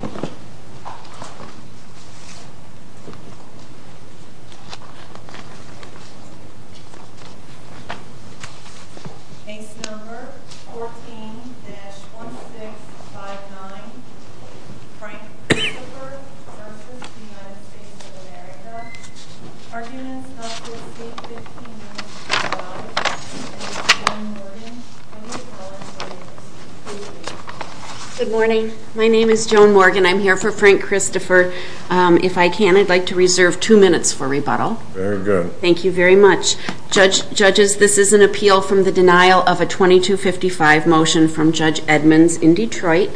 of America. Our units have received 15 minutes to arrive. Ms. Joan Morgan, can you tell us who you are? Good morning. My name is Joan Morgan. I'm here for Frank Christopher. If I can, I'd like to reserve two minutes for rebuttal. Very good. Thank you very much. Judges, this is an appeal from the denial of a 2255 motion from Judge Edmonds in Detroit.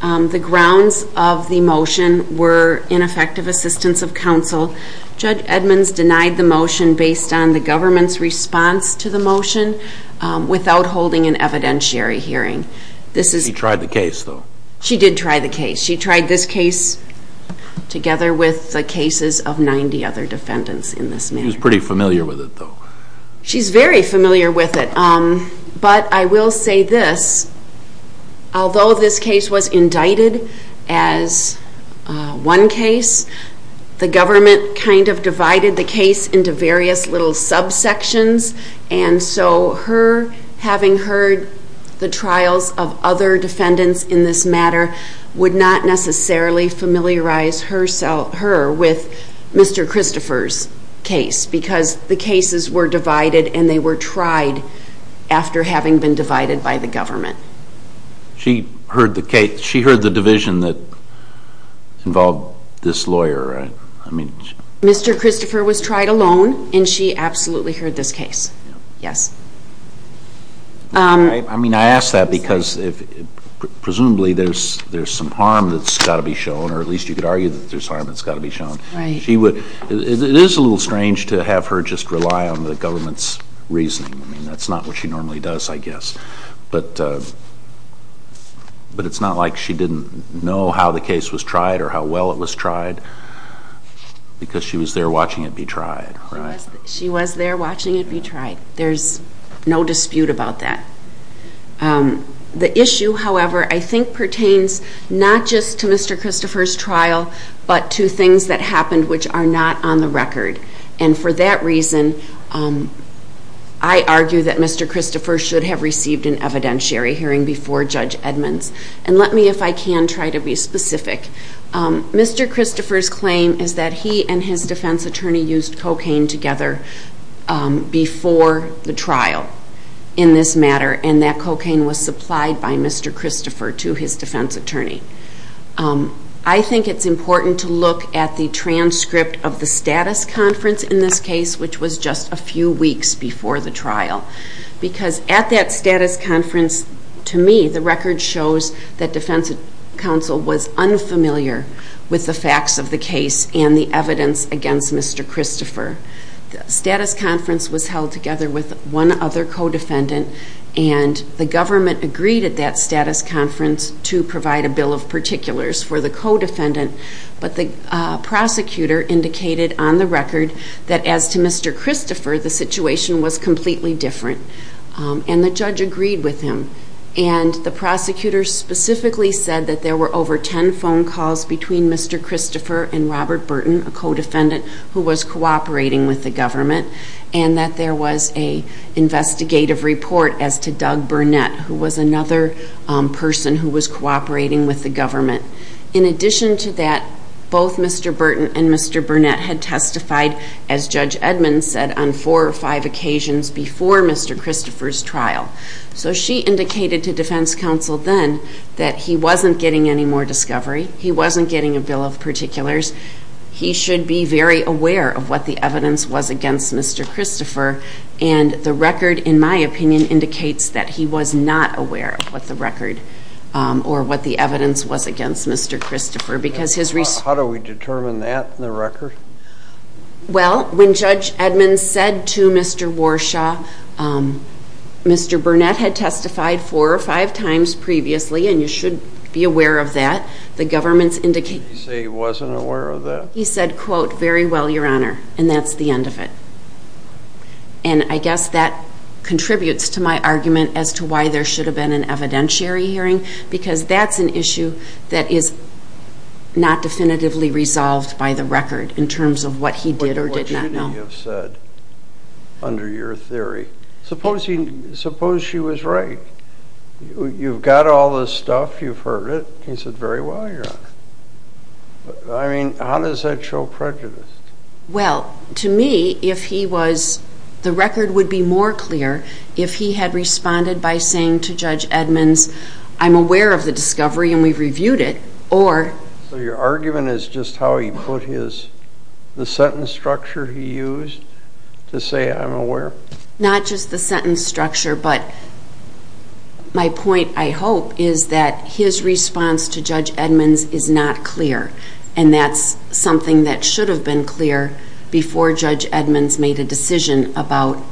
The grounds of the motion were ineffective assistance of counsel. Judge Edmonds denied the motion based on the government's response to the motion without holding an evidentiary hearing. She tried the case, though. She did try the case. She tried this case together with the cases of 90 other defendants in this matter. She was pretty familiar with it, though. She's very familiar with it. But I will say this. Although this case was indicted as one case, the government kind of divided the case into various little subsections. And so her having heard the trials of other defendants in this matter would not necessarily familiarize her with Mr. Christopher's case because the cases were divided and they were tried after having been divided by the government. She heard the case. She heard the division that involved this lawyer. Mr. Christopher was tried alone and she absolutely heard this case? Yes. I mean, I ask that because presumably there's some harm that's got to be shown, or at least you could argue that there's harm that's got to be shown. It is a little strange to have her just rely on the government's reasoning. I mean, that's not what she normally does, I guess. But it's not like she didn't know how the case was tried or how well it was tried because she was there watching it be tried, right? She was there watching it be tried. There's no dispute about that. The issue, however, I think pertains not just to Mr. Christopher's trial but to things that happened which are not on the record. And for that reason, I argue that Mr. Christopher should have received an evidentiary hearing before Judge Edmonds. And let me, if I can, try to be specific. Mr. Christopher's claim is that he and his defense attorney used cocaine together before the trial in this matter. And that cocaine was supplied by Mr. Christopher to his defense attorney. I think it's important to look at the transcript of the status conference in this case, which was just a few weeks before the trial. Because at that status conference, to me, the record shows that defense counsel was unfamiliar with the facts of the case and the evidence against Mr. Christopher. The status conference was held together with one other co-defendant. And the government agreed at that status conference to provide a bill of particulars for the co-defendant. But the prosecutor indicated on the record that as to Mr. Christopher, the situation was completely different. And the judge agreed with him. And the prosecutor specifically said that there were over ten phone calls between Mr. Christopher and Robert Burton, a co-defendant, who was cooperating with the government. And that there was an investigative report as to Doug Burnett, who was another person who was cooperating with the government. In addition to that, both Mr. Burton and Mr. Burnett had testified, as Judge Edmond said, on four or five occasions before Mr. Christopher's trial. So she indicated to defense counsel then that he wasn't getting any more discovery. He wasn't getting a bill of particulars. He should be very aware of what the evidence was against Mr. Christopher. And the record, in my opinion, indicates that he was not aware of what the record or what the evidence was against Mr. Christopher. How do we determine that in the record? Well, when Judge Edmond said to Mr. Warshaw, Mr. Burnett had testified four or five times previously, and you should be aware of that. The government's indication... Did he say he wasn't aware of that? He said, quote, very well, Your Honor, and that's the end of it. And I guess that contributes to my argument as to why there should have been an evidentiary hearing, because that's an issue that is not definitively resolved by the record in terms of what he did or did not know. But what should he have said under your theory? Suppose she was right. You've got all this stuff. You've heard it. He said, very well, Your Honor. I mean, how does that show prejudice? Well, to me, if he was, the record would be more clear if he had responded by saying to Judge Edmonds, I'm aware of the discovery and we've reviewed it, or... So your argument is just how he put his, the sentence structure he used to say, I'm aware? Not just the sentence structure, but my point, I hope, is that his response to Judge Edmonds is not clear, and that's something that should have been clear before Judge Edmonds made a decision about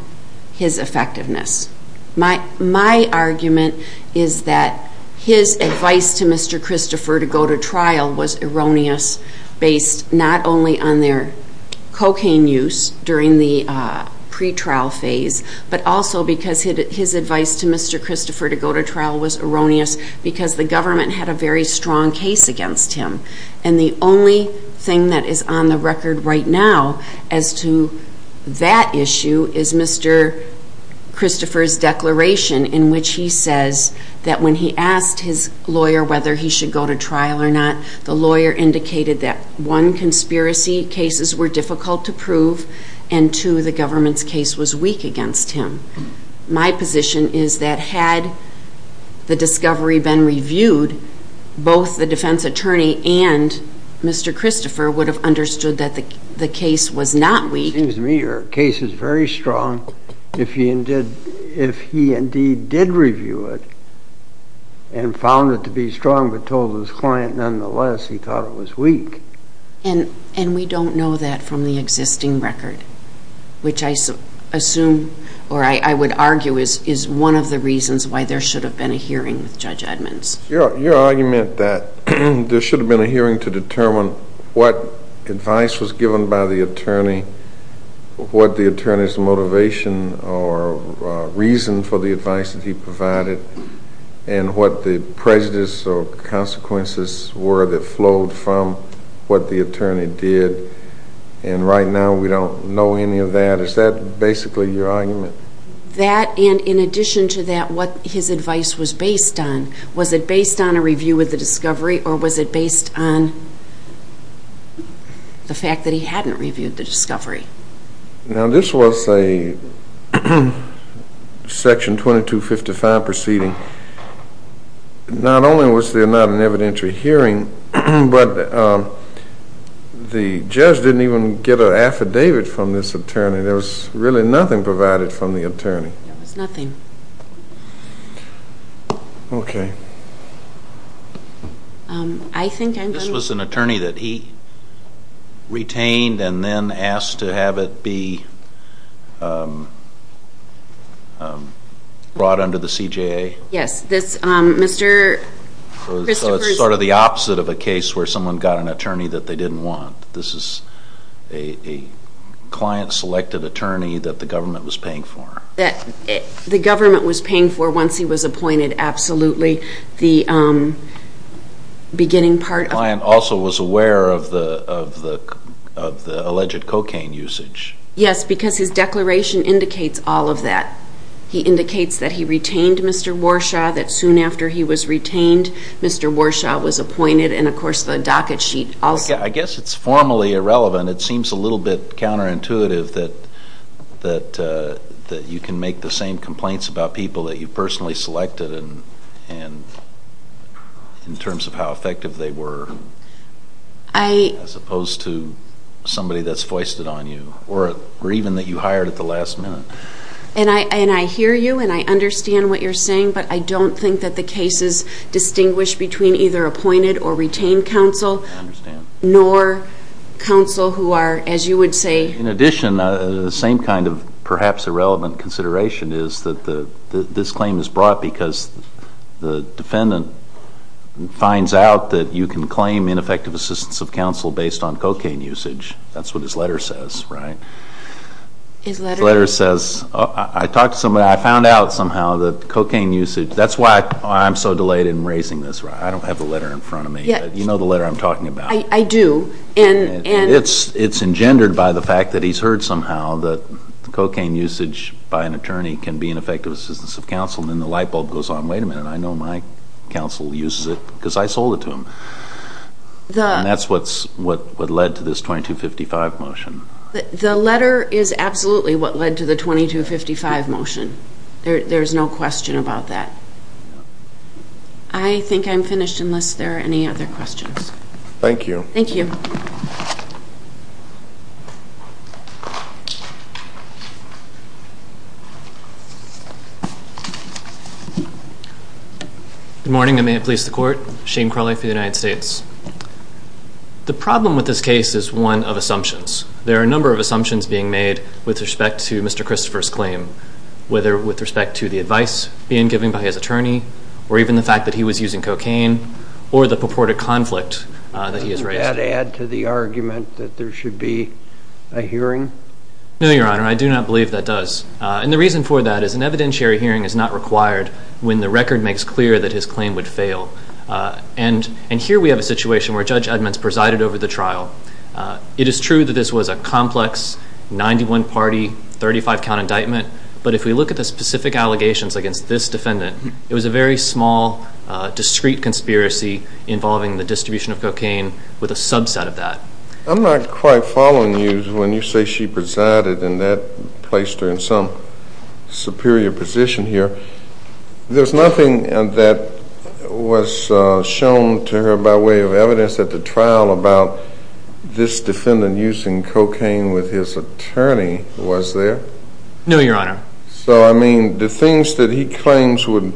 his effectiveness. My argument is that his advice to Mr. Christopher to go to trial was erroneous, based not only on their cocaine use during the pretrial phase, but also because his advice to Mr. Christopher to go to trial was erroneous because the government had a very strong case against him. And the only thing that is on the record right now as to that issue is Mr. Christopher's declaration in which he says that when he asked his lawyer whether he should go to trial or not, the lawyer indicated that one, conspiracy cases were difficult to prove, and two, the government's case was weak against him. My position is that had the discovery been reviewed, both the defense attorney and Mr. Christopher would have understood that the case was not weak. It seems to me your case is very strong. If he indeed did review it and found it to be strong but told his client nonetheless he thought it was weak. And we don't know that from the existing record, which I assume or I would argue is one of the reasons why there should have been a hearing with Judge Edmonds. Your argument that there should have been a hearing to determine what advice was given by the attorney, what the attorney's motivation or reason for the advice that he provided, and what the prejudice or consequences were that flowed from what the attorney did. And right now we don't know any of that. Is that basically your argument? That and in addition to that, what his advice was based on. Was it based on a review of the discovery or was it based on the fact that he hadn't reviewed the discovery? Now this was a Section 2255 proceeding. Not only was there not an evidentiary hearing, but the judge didn't even get an affidavit from this attorney. There was really nothing provided from the attorney. There was nothing. Okay. This was an attorney that he retained and then asked to have it be brought under the CJA? Yes. So it's sort of the opposite of a case where someone got an attorney that they didn't want. This is a client-selected attorney that the government was paying for. The government was paying for once he was appointed, absolutely. The client also was aware of the alleged cocaine usage. Yes, because his declaration indicates all of that. He indicates that he retained Mr. Warshaw, that soon after he was retained, Mr. Warshaw was appointed, and, of course, the docket sheet also. I guess it's formally irrelevant. It seems a little bit counterintuitive that you can make the same complaints about people that you personally selected in terms of how effective they were as opposed to somebody that's foisted on you or even that you hired at the last minute. And I hear you, and I understand what you're saying, but I don't think that the cases distinguish between either appointed or retained counsel. I understand. Nor counsel who are, as you would say. In addition, the same kind of perhaps irrelevant consideration is that this claim is brought because the defendant finds out that you can claim ineffective assistance of counsel based on cocaine usage. That's what his letter says, right? His letter? His letter says, I talked to somebody, I found out somehow that cocaine usage, that's why I'm so delayed in raising this. I don't have the letter in front of me. You know the letter I'm talking about. I do. It's engendered by the fact that he's heard somehow that cocaine usage by an attorney can be ineffective assistance of counsel, and then the light bulb goes on. Wait a minute, I know my counsel uses it because I sold it to him. And that's what led to this 2255 motion. The letter is absolutely what led to the 2255 motion. There's no question about that. I think I'm finished unless there are any other questions. Thank you. Thank you. Good morning, and may it please the Court. Shane Crawley for the United States. The problem with this case is one of assumptions. There are a number of assumptions being made with respect to Mr. Christopher's claim, whether with respect to the advice being given by his attorney, or even the fact that he was using cocaine, or the purported conflict that he has raised. Doesn't that add to the argument that there should be a hearing? No, Your Honor, I do not believe that does. And the reason for that is an evidentiary hearing is not required when the record makes clear that his claim would fail. And here we have a situation where Judge Edmonds presided over the trial. It is true that this was a complex 91-party, 35-count indictment, but if we look at the specific allegations against this defendant, it was a very small, discrete conspiracy involving the distribution of cocaine with a subset of that. I'm not quite following you when you say she presided and that placed her in some superior position here. There's nothing that was shown to her by way of evidence at the trial about this defendant using cocaine with his attorney, was there? No, Your Honor. So, I mean, the things that he claims would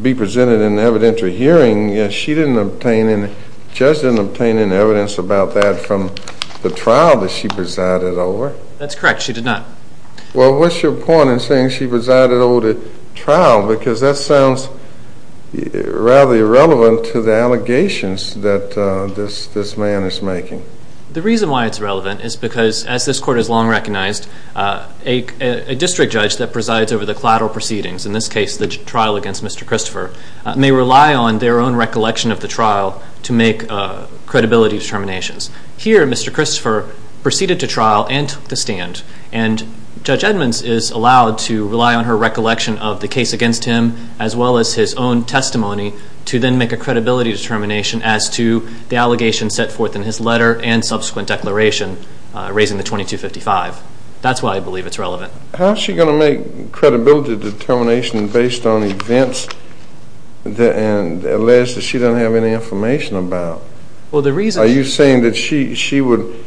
be presented in the evidentiary hearing, she didn't obtain any, the judge didn't obtain any evidence about that from the trial that she presided over? That's correct, she did not. Well, what's your point in saying she presided over the trial? Because that sounds rather irrelevant to the allegations that this man is making. The reason why it's relevant is because, as this Court has long recognized, a district judge that presides over the collateral proceedings, in this case the trial against Mr. Christopher, may rely on their own recollection of the trial to make credibility determinations. Here, Mr. Christopher proceeded to trial and took the stand, and Judge Edmonds is allowed to rely on her recollection of the case against him, as well as his own testimony, to then make a credibility determination as to the allegations set forth in his letter and subsequent declaration, raising the 2255. That's why I believe it's relevant. How is she going to make credibility determinations based on events and alleged that she doesn't have any information about? Are you saying that she would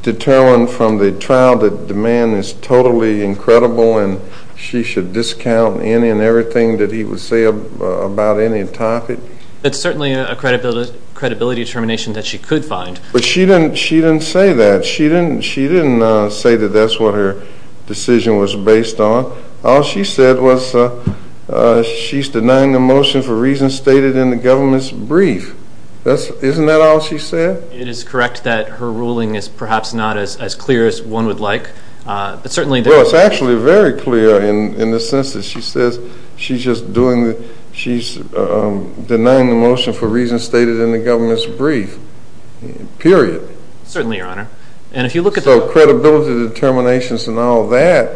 determine from the trial that the man is totally incredible and she should discount any and everything that he would say about any topic? That's certainly a credibility determination that she could find. But she didn't say that. She didn't say that that's what her decision was based on. All she said was she's denying the motion for reasons stated in the government's brief. Isn't that all she said? It is correct that her ruling is perhaps not as clear as one would like. Well, it's actually very clear in the sense that she says she's denying the motion for reasons stated in the government's brief, period. Certainly, Your Honor. So credibility determinations and all that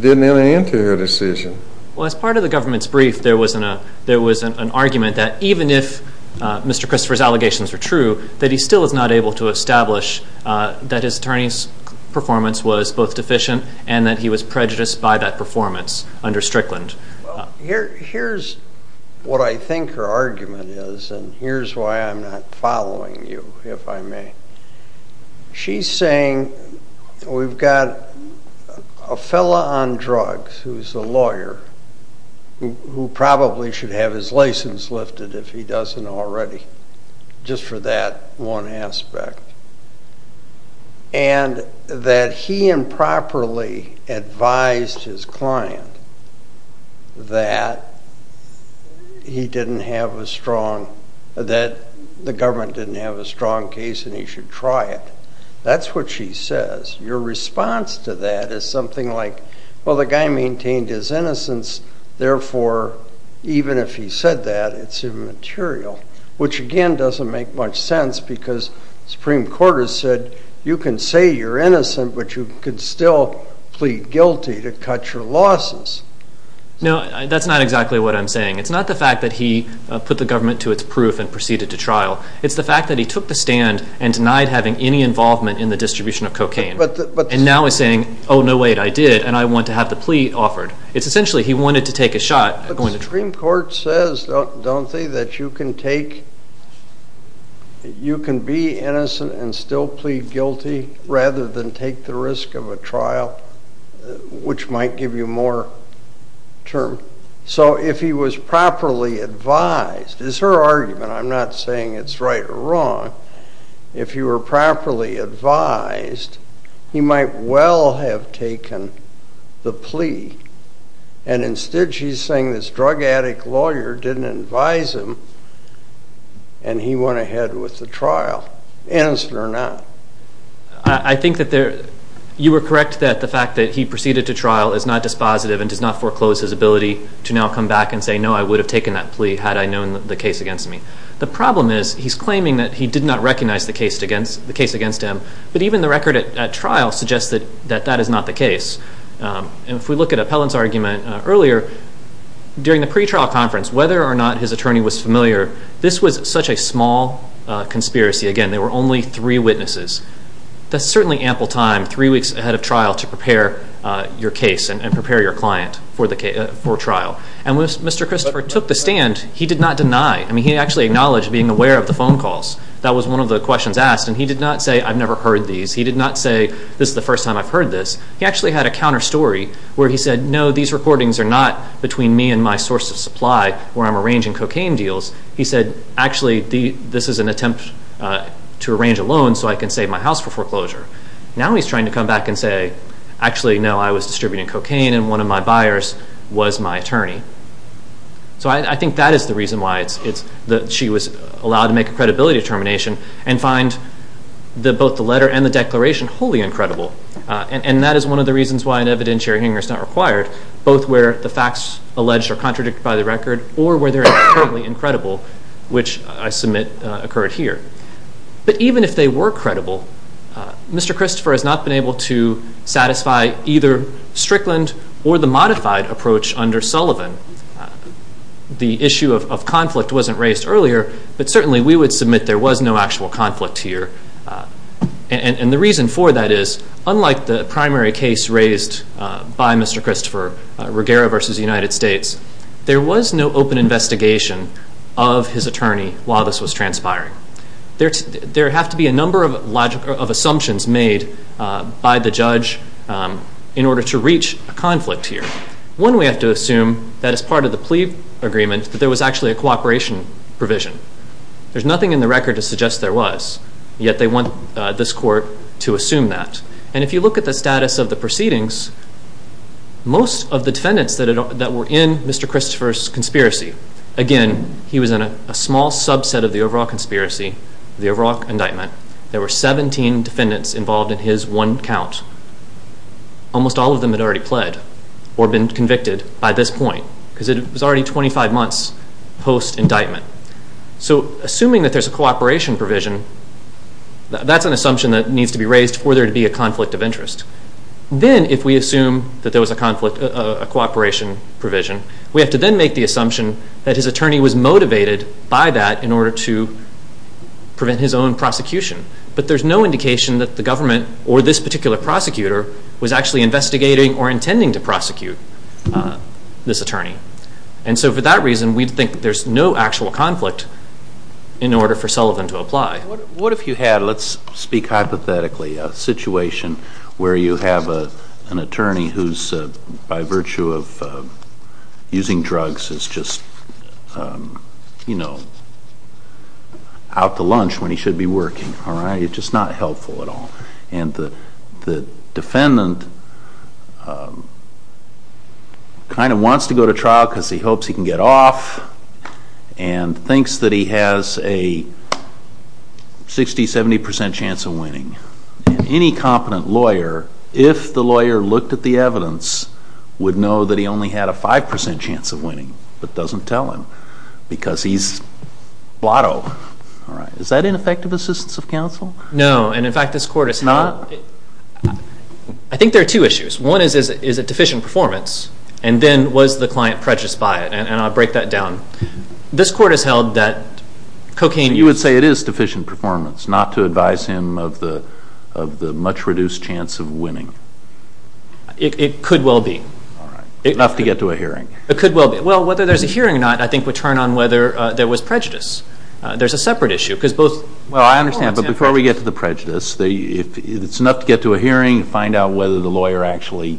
didn't enter her decision. Well, as part of the government's brief, there was an argument that even if Mr. Christopher's allegations were true, that he still is not able to establish that his attorney's performance was both deficient and that he was prejudiced by that performance under Strickland. Here's what I think her argument is, and here's why I'm not following you, if I may. She's saying we've got a fellow on drugs who's a lawyer, who probably should have his license lifted if he doesn't already, just for that one aspect, and that he improperly advised his client that he didn't have a strong, that the government didn't have a strong case and he should try it. That's what she says. Your response to that is something like, well, the guy maintained his innocence, therefore, even if he said that, it's immaterial, which, again, doesn't make much sense because the Supreme Court has said you can say you're innocent, but you can still plead guilty to cut your losses. No, that's not exactly what I'm saying. It's not the fact that he put the government to its proof and proceeded to trial. It's the fact that he took the stand and denied having any involvement in the distribution of cocaine and now is saying, oh, no, wait, I did, and I want to have the plea offered. It's essentially he wanted to take a shot at going to trial. But the Supreme Court says, don't they, that you can be innocent and still plead guilty rather than take the risk of a trial, which might give you more term. So if he was properly advised, it's her argument. I'm not saying it's right or wrong. If he were properly advised, he might well have taken the plea, and instead she's saying this drug addict lawyer didn't advise him and he went ahead with the trial, innocent or not. I think that you were correct that the fact that he proceeded to trial is not dispositive and does not foreclose his ability to now come back and say, no, I would have taken that plea had I known the case against me. The problem is he's claiming that he did not recognize the case against him, but even the record at trial suggests that that is not the case. And if we look at Appellant's argument earlier, during the pretrial conference, whether or not his attorney was familiar, this was such a small conspiracy. Again, there were only three witnesses. That's certainly ample time, three weeks ahead of trial, to prepare your case and prepare your client for trial. And when Mr. Christopher took the stand, he did not deny. I mean, he actually acknowledged being aware of the phone calls. That was one of the questions asked, and he did not say, I've never heard these. He did not say, this is the first time I've heard this. He actually had a counter story where he said, no, these recordings are not between me and my source of supply where I'm arranging cocaine deals. He said, actually, this is an attempt to arrange a loan so I can save my house for foreclosure. Now he's trying to come back and say, actually, no, I was distributing cocaine, and one of my buyers was my attorney. So I think that is the reason why she was allowed to make a credibility determination and find both the letter and the declaration wholly incredible. And that is one of the reasons why an evidentiary hearing is not required, both where the facts alleged are contradicted by the record or where they're incredibly incredible, which I submit occurred here. But even if they were credible, Mr. Christopher has not been able to satisfy either Strickland or the modified approach under Sullivan. The issue of conflict wasn't raised earlier, but certainly we would submit there was no actual conflict here. And the reason for that is, unlike the primary case raised by Mr. Christopher, Ruggiero v. United States, there was no open investigation of his attorney while this was transpiring. There have to be a number of assumptions made by the judge in order to reach a conflict here. One, we have to assume that as part of the plea agreement that there was actually a cooperation provision. There's nothing in the record to suggest there was, yet they want this court to assume that. And if you look at the status of the proceedings, most of the defendants that were in Mr. Christopher's conspiracy, again, he was in a small subset of the overall conspiracy, the overall indictment. There were 17 defendants involved in his one count. Almost all of them had already pled or been convicted by this point, because it was already 25 months post-indictment. So assuming that there's a cooperation provision, that's an assumption that needs to be raised for there to be a conflict of interest. Then, if we assume that there was a cooperation provision, we have to then make the assumption that his attorney was motivated by that in order to prevent his own prosecution. But there's no indication that the government or this particular prosecutor was actually investigating or intending to prosecute this attorney. And so for that reason, we think there's no actual conflict in order for Sullivan to apply. What if you had, let's speak hypothetically, a situation where you have an attorney who's, by virtue of using drugs, is just, you know, out to lunch when he should be working, all right? He's just not helpful at all. And the defendant kind of wants to go to trial because he hopes he can get off and thinks that he has a 60, 70 percent chance of winning. And any competent lawyer, if the lawyer looked at the evidence, would know that he only had a 5 percent chance of winning, but doesn't tell him because he's blotto. All right. Is that ineffective assistance of counsel? No. And, in fact, this Court has held... Not... I think there are two issues. One is, is it deficient performance? And then, was the client prejudiced by it? And I'll break that down. This Court has held that cocaine... You would say it is deficient performance, not to advise him of the much reduced chance of winning. It could well be. All right. Enough to get to a hearing. It could well be. Well, whether there's a hearing or not, I think, would turn on whether there was prejudice. There's a separate issue because both... Well, I understand, but before we get to the prejudice, if it's enough to get to a hearing, find out whether the lawyer actually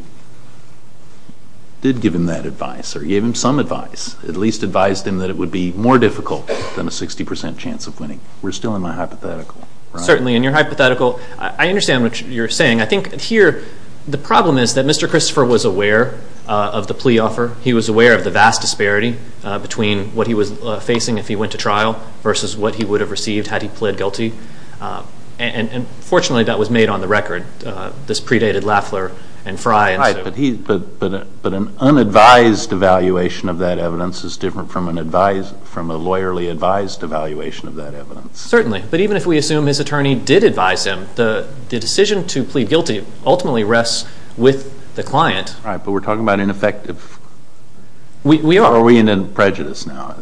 did give him that advice or gave him some advice, at least advised him that it would be more difficult than a 60% chance of winning. We're still in my hypothetical. Certainly, in your hypothetical. I understand what you're saying. I think here the problem is that Mr. Christopher was aware of the plea offer. He was aware of the vast disparity between what he was facing if he went to trial versus what he would have received had he pled guilty. And, fortunately, that was made on the record. This predated Lafler and Frye. Right. But an unadvised evaluation of that evidence is different from a lawyerly advised evaluation of that evidence. Certainly. But even if we assume his attorney did advise him, the decision to plead guilty ultimately rests with the client. Right. But we're talking about ineffective. We are. Or are we in prejudice now?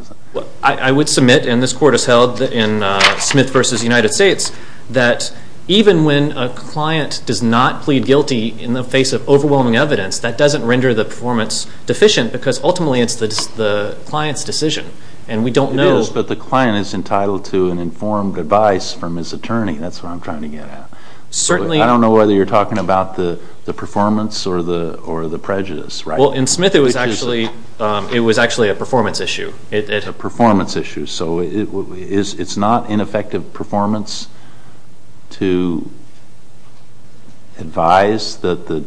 I would submit, and this Court has held in Smith v. United States, that even when a client does not plead guilty in the face of overwhelming evidence, that doesn't render the performance deficient because ultimately it's the client's decision. And we don't know. It is, but the client is entitled to an informed advice from his attorney. That's what I'm trying to get at. Certainly. I don't know whether you're talking about the performance or the prejudice. Well, in Smith it was actually a performance issue. A performance issue. So it's not ineffective performance to advise that the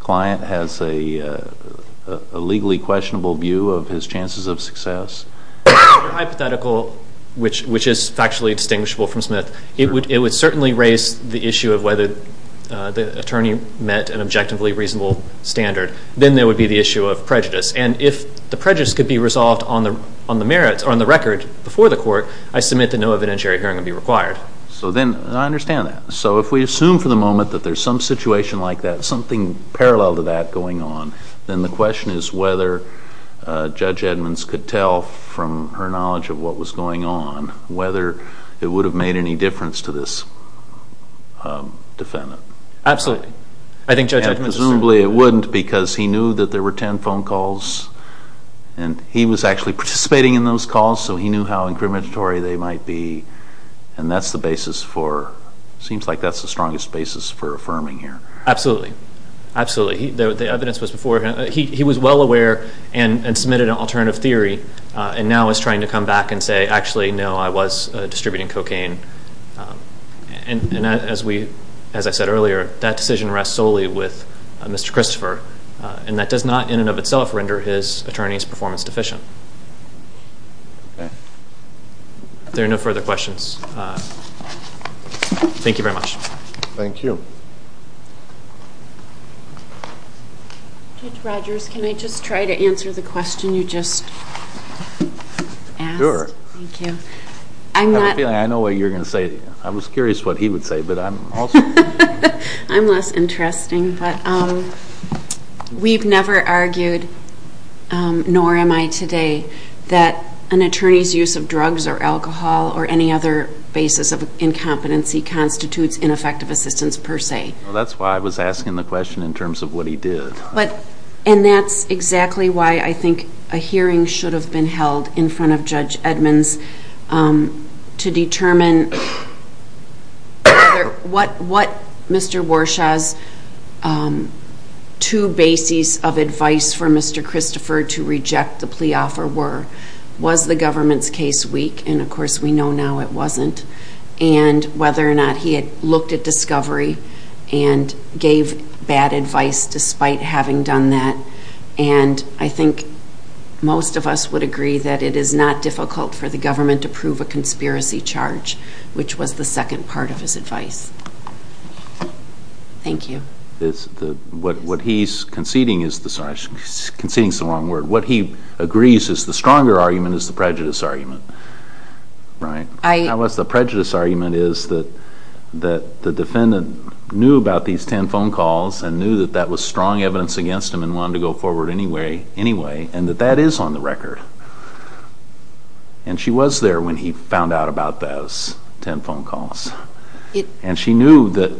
client has a legally questionable view of his chances of success. Hypothetical, which is factually distinguishable from Smith. It would certainly raise the issue of whether the attorney met an objectively reasonable standard. Then there would be the issue of prejudice. And if the prejudice could be resolved on the record before the Court, I submit that no evidentiary hearing would be required. I understand that. So if we assume for the moment that there's some situation like that, something parallel to that going on, then the question is whether Judge Edmonds could tell from her knowledge of what was going on, whether it would have made any difference to this defendant. Absolutely. Presumably it wouldn't because he knew that there were ten phone calls and he was actually participating in those calls, so he knew how incriminatory they might be. And that's the basis for, seems like that's the strongest basis for affirming here. Absolutely. Absolutely. The evidence was before him. He was well aware and submitted an alternative theory and now is trying to come back and say, actually, no, I was distributing cocaine. And as I said earlier, that decision rests solely with Mr. Christopher, and that does not in and of itself render his attorney's performance deficient. Okay. If there are no further questions, thank you very much. Thank you. Judge Rogers, can I just try to answer the question you just asked? Sure. Thank you. I have a feeling I know what you're going to say. I was curious what he would say. I'm less interesting. We've never argued, nor am I today, that an attorney's use of drugs or alcohol or any other basis of incompetency constitutes ineffective assistance per se. That's why I was asking the question in terms of what he did. And that's exactly why I think a hearing should have been held in front of Judge Edmonds to determine what Mr. Warshaw's two bases of advice for Mr. Christopher to reject the plea offer were. Was the government's case weak? And, of course, we know now it wasn't. And whether or not he had looked at discovery and gave bad advice despite having done that. And I think most of us would agree that it is not difficult for the government to prove a conspiracy charge, which was the second part of his advice. Thank you. What he's conceding is the stronger argument is the prejudice argument. Right. The prejudice argument is that the defendant knew about these ten phone calls and knew that that was strong evidence against him and wanted to go forward anyway, and that that is on the record. And she was there when he found out about those ten phone calls. And she knew that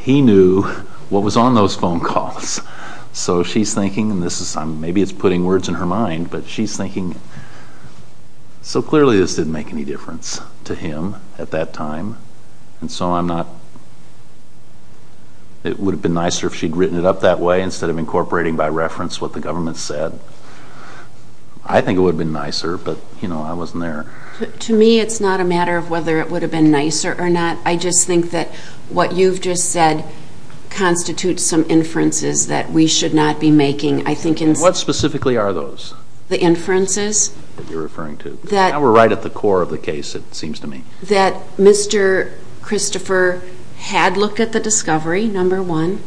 he knew what was on those phone calls. So she's thinking, and maybe it's putting words in her mind, but she's thinking, so clearly this didn't make any difference to him at that time. And so I'm not, it would have been nicer if she'd written it up that way instead of incorporating by reference what the government said. I think it would have been nicer, but, you know, I wasn't there. To me it's not a matter of whether it would have been nicer or not. I just think that what you've just said constitutes some inferences that we should not be making. What specifically are those? The inferences. That you're referring to. Now we're right at the core of the case, it seems to me. That Mr. Christopher had looked at the discovery, number one,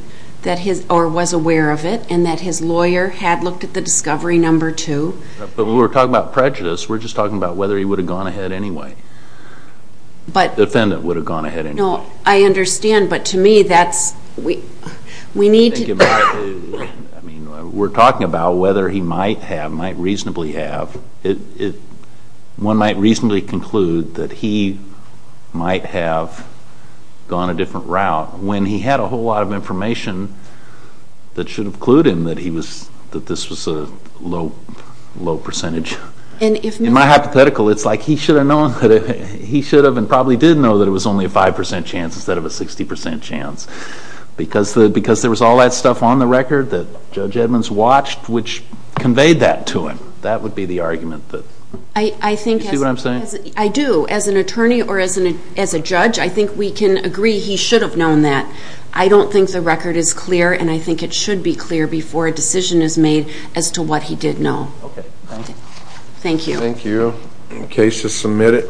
or was aware of it, and that his lawyer had looked at the discovery, number two. But when we're talking about prejudice, we're just talking about whether he would have gone ahead anyway. The defendant would have gone ahead anyway. No, I understand, but to me that's, we need to. We're talking about whether he might have, might reasonably have, one might reasonably conclude that he might have gone a different route when he had a whole lot of information that should have clued him that this was a low percentage. In my hypothetical, it's like he should have known, he should have and probably did know that it was only a 5% chance instead of a 60% chance. Because there was all that stuff on the record that Judge Edmonds watched, which conveyed that to him. That would be the argument. Do you see what I'm saying? I do. As an attorney or as a judge, I think we can agree he should have known that. I don't think the record is clear, and I think it should be clear before a decision is made as to what he did know. Okay. Thank you. Thank you. The case is submitted.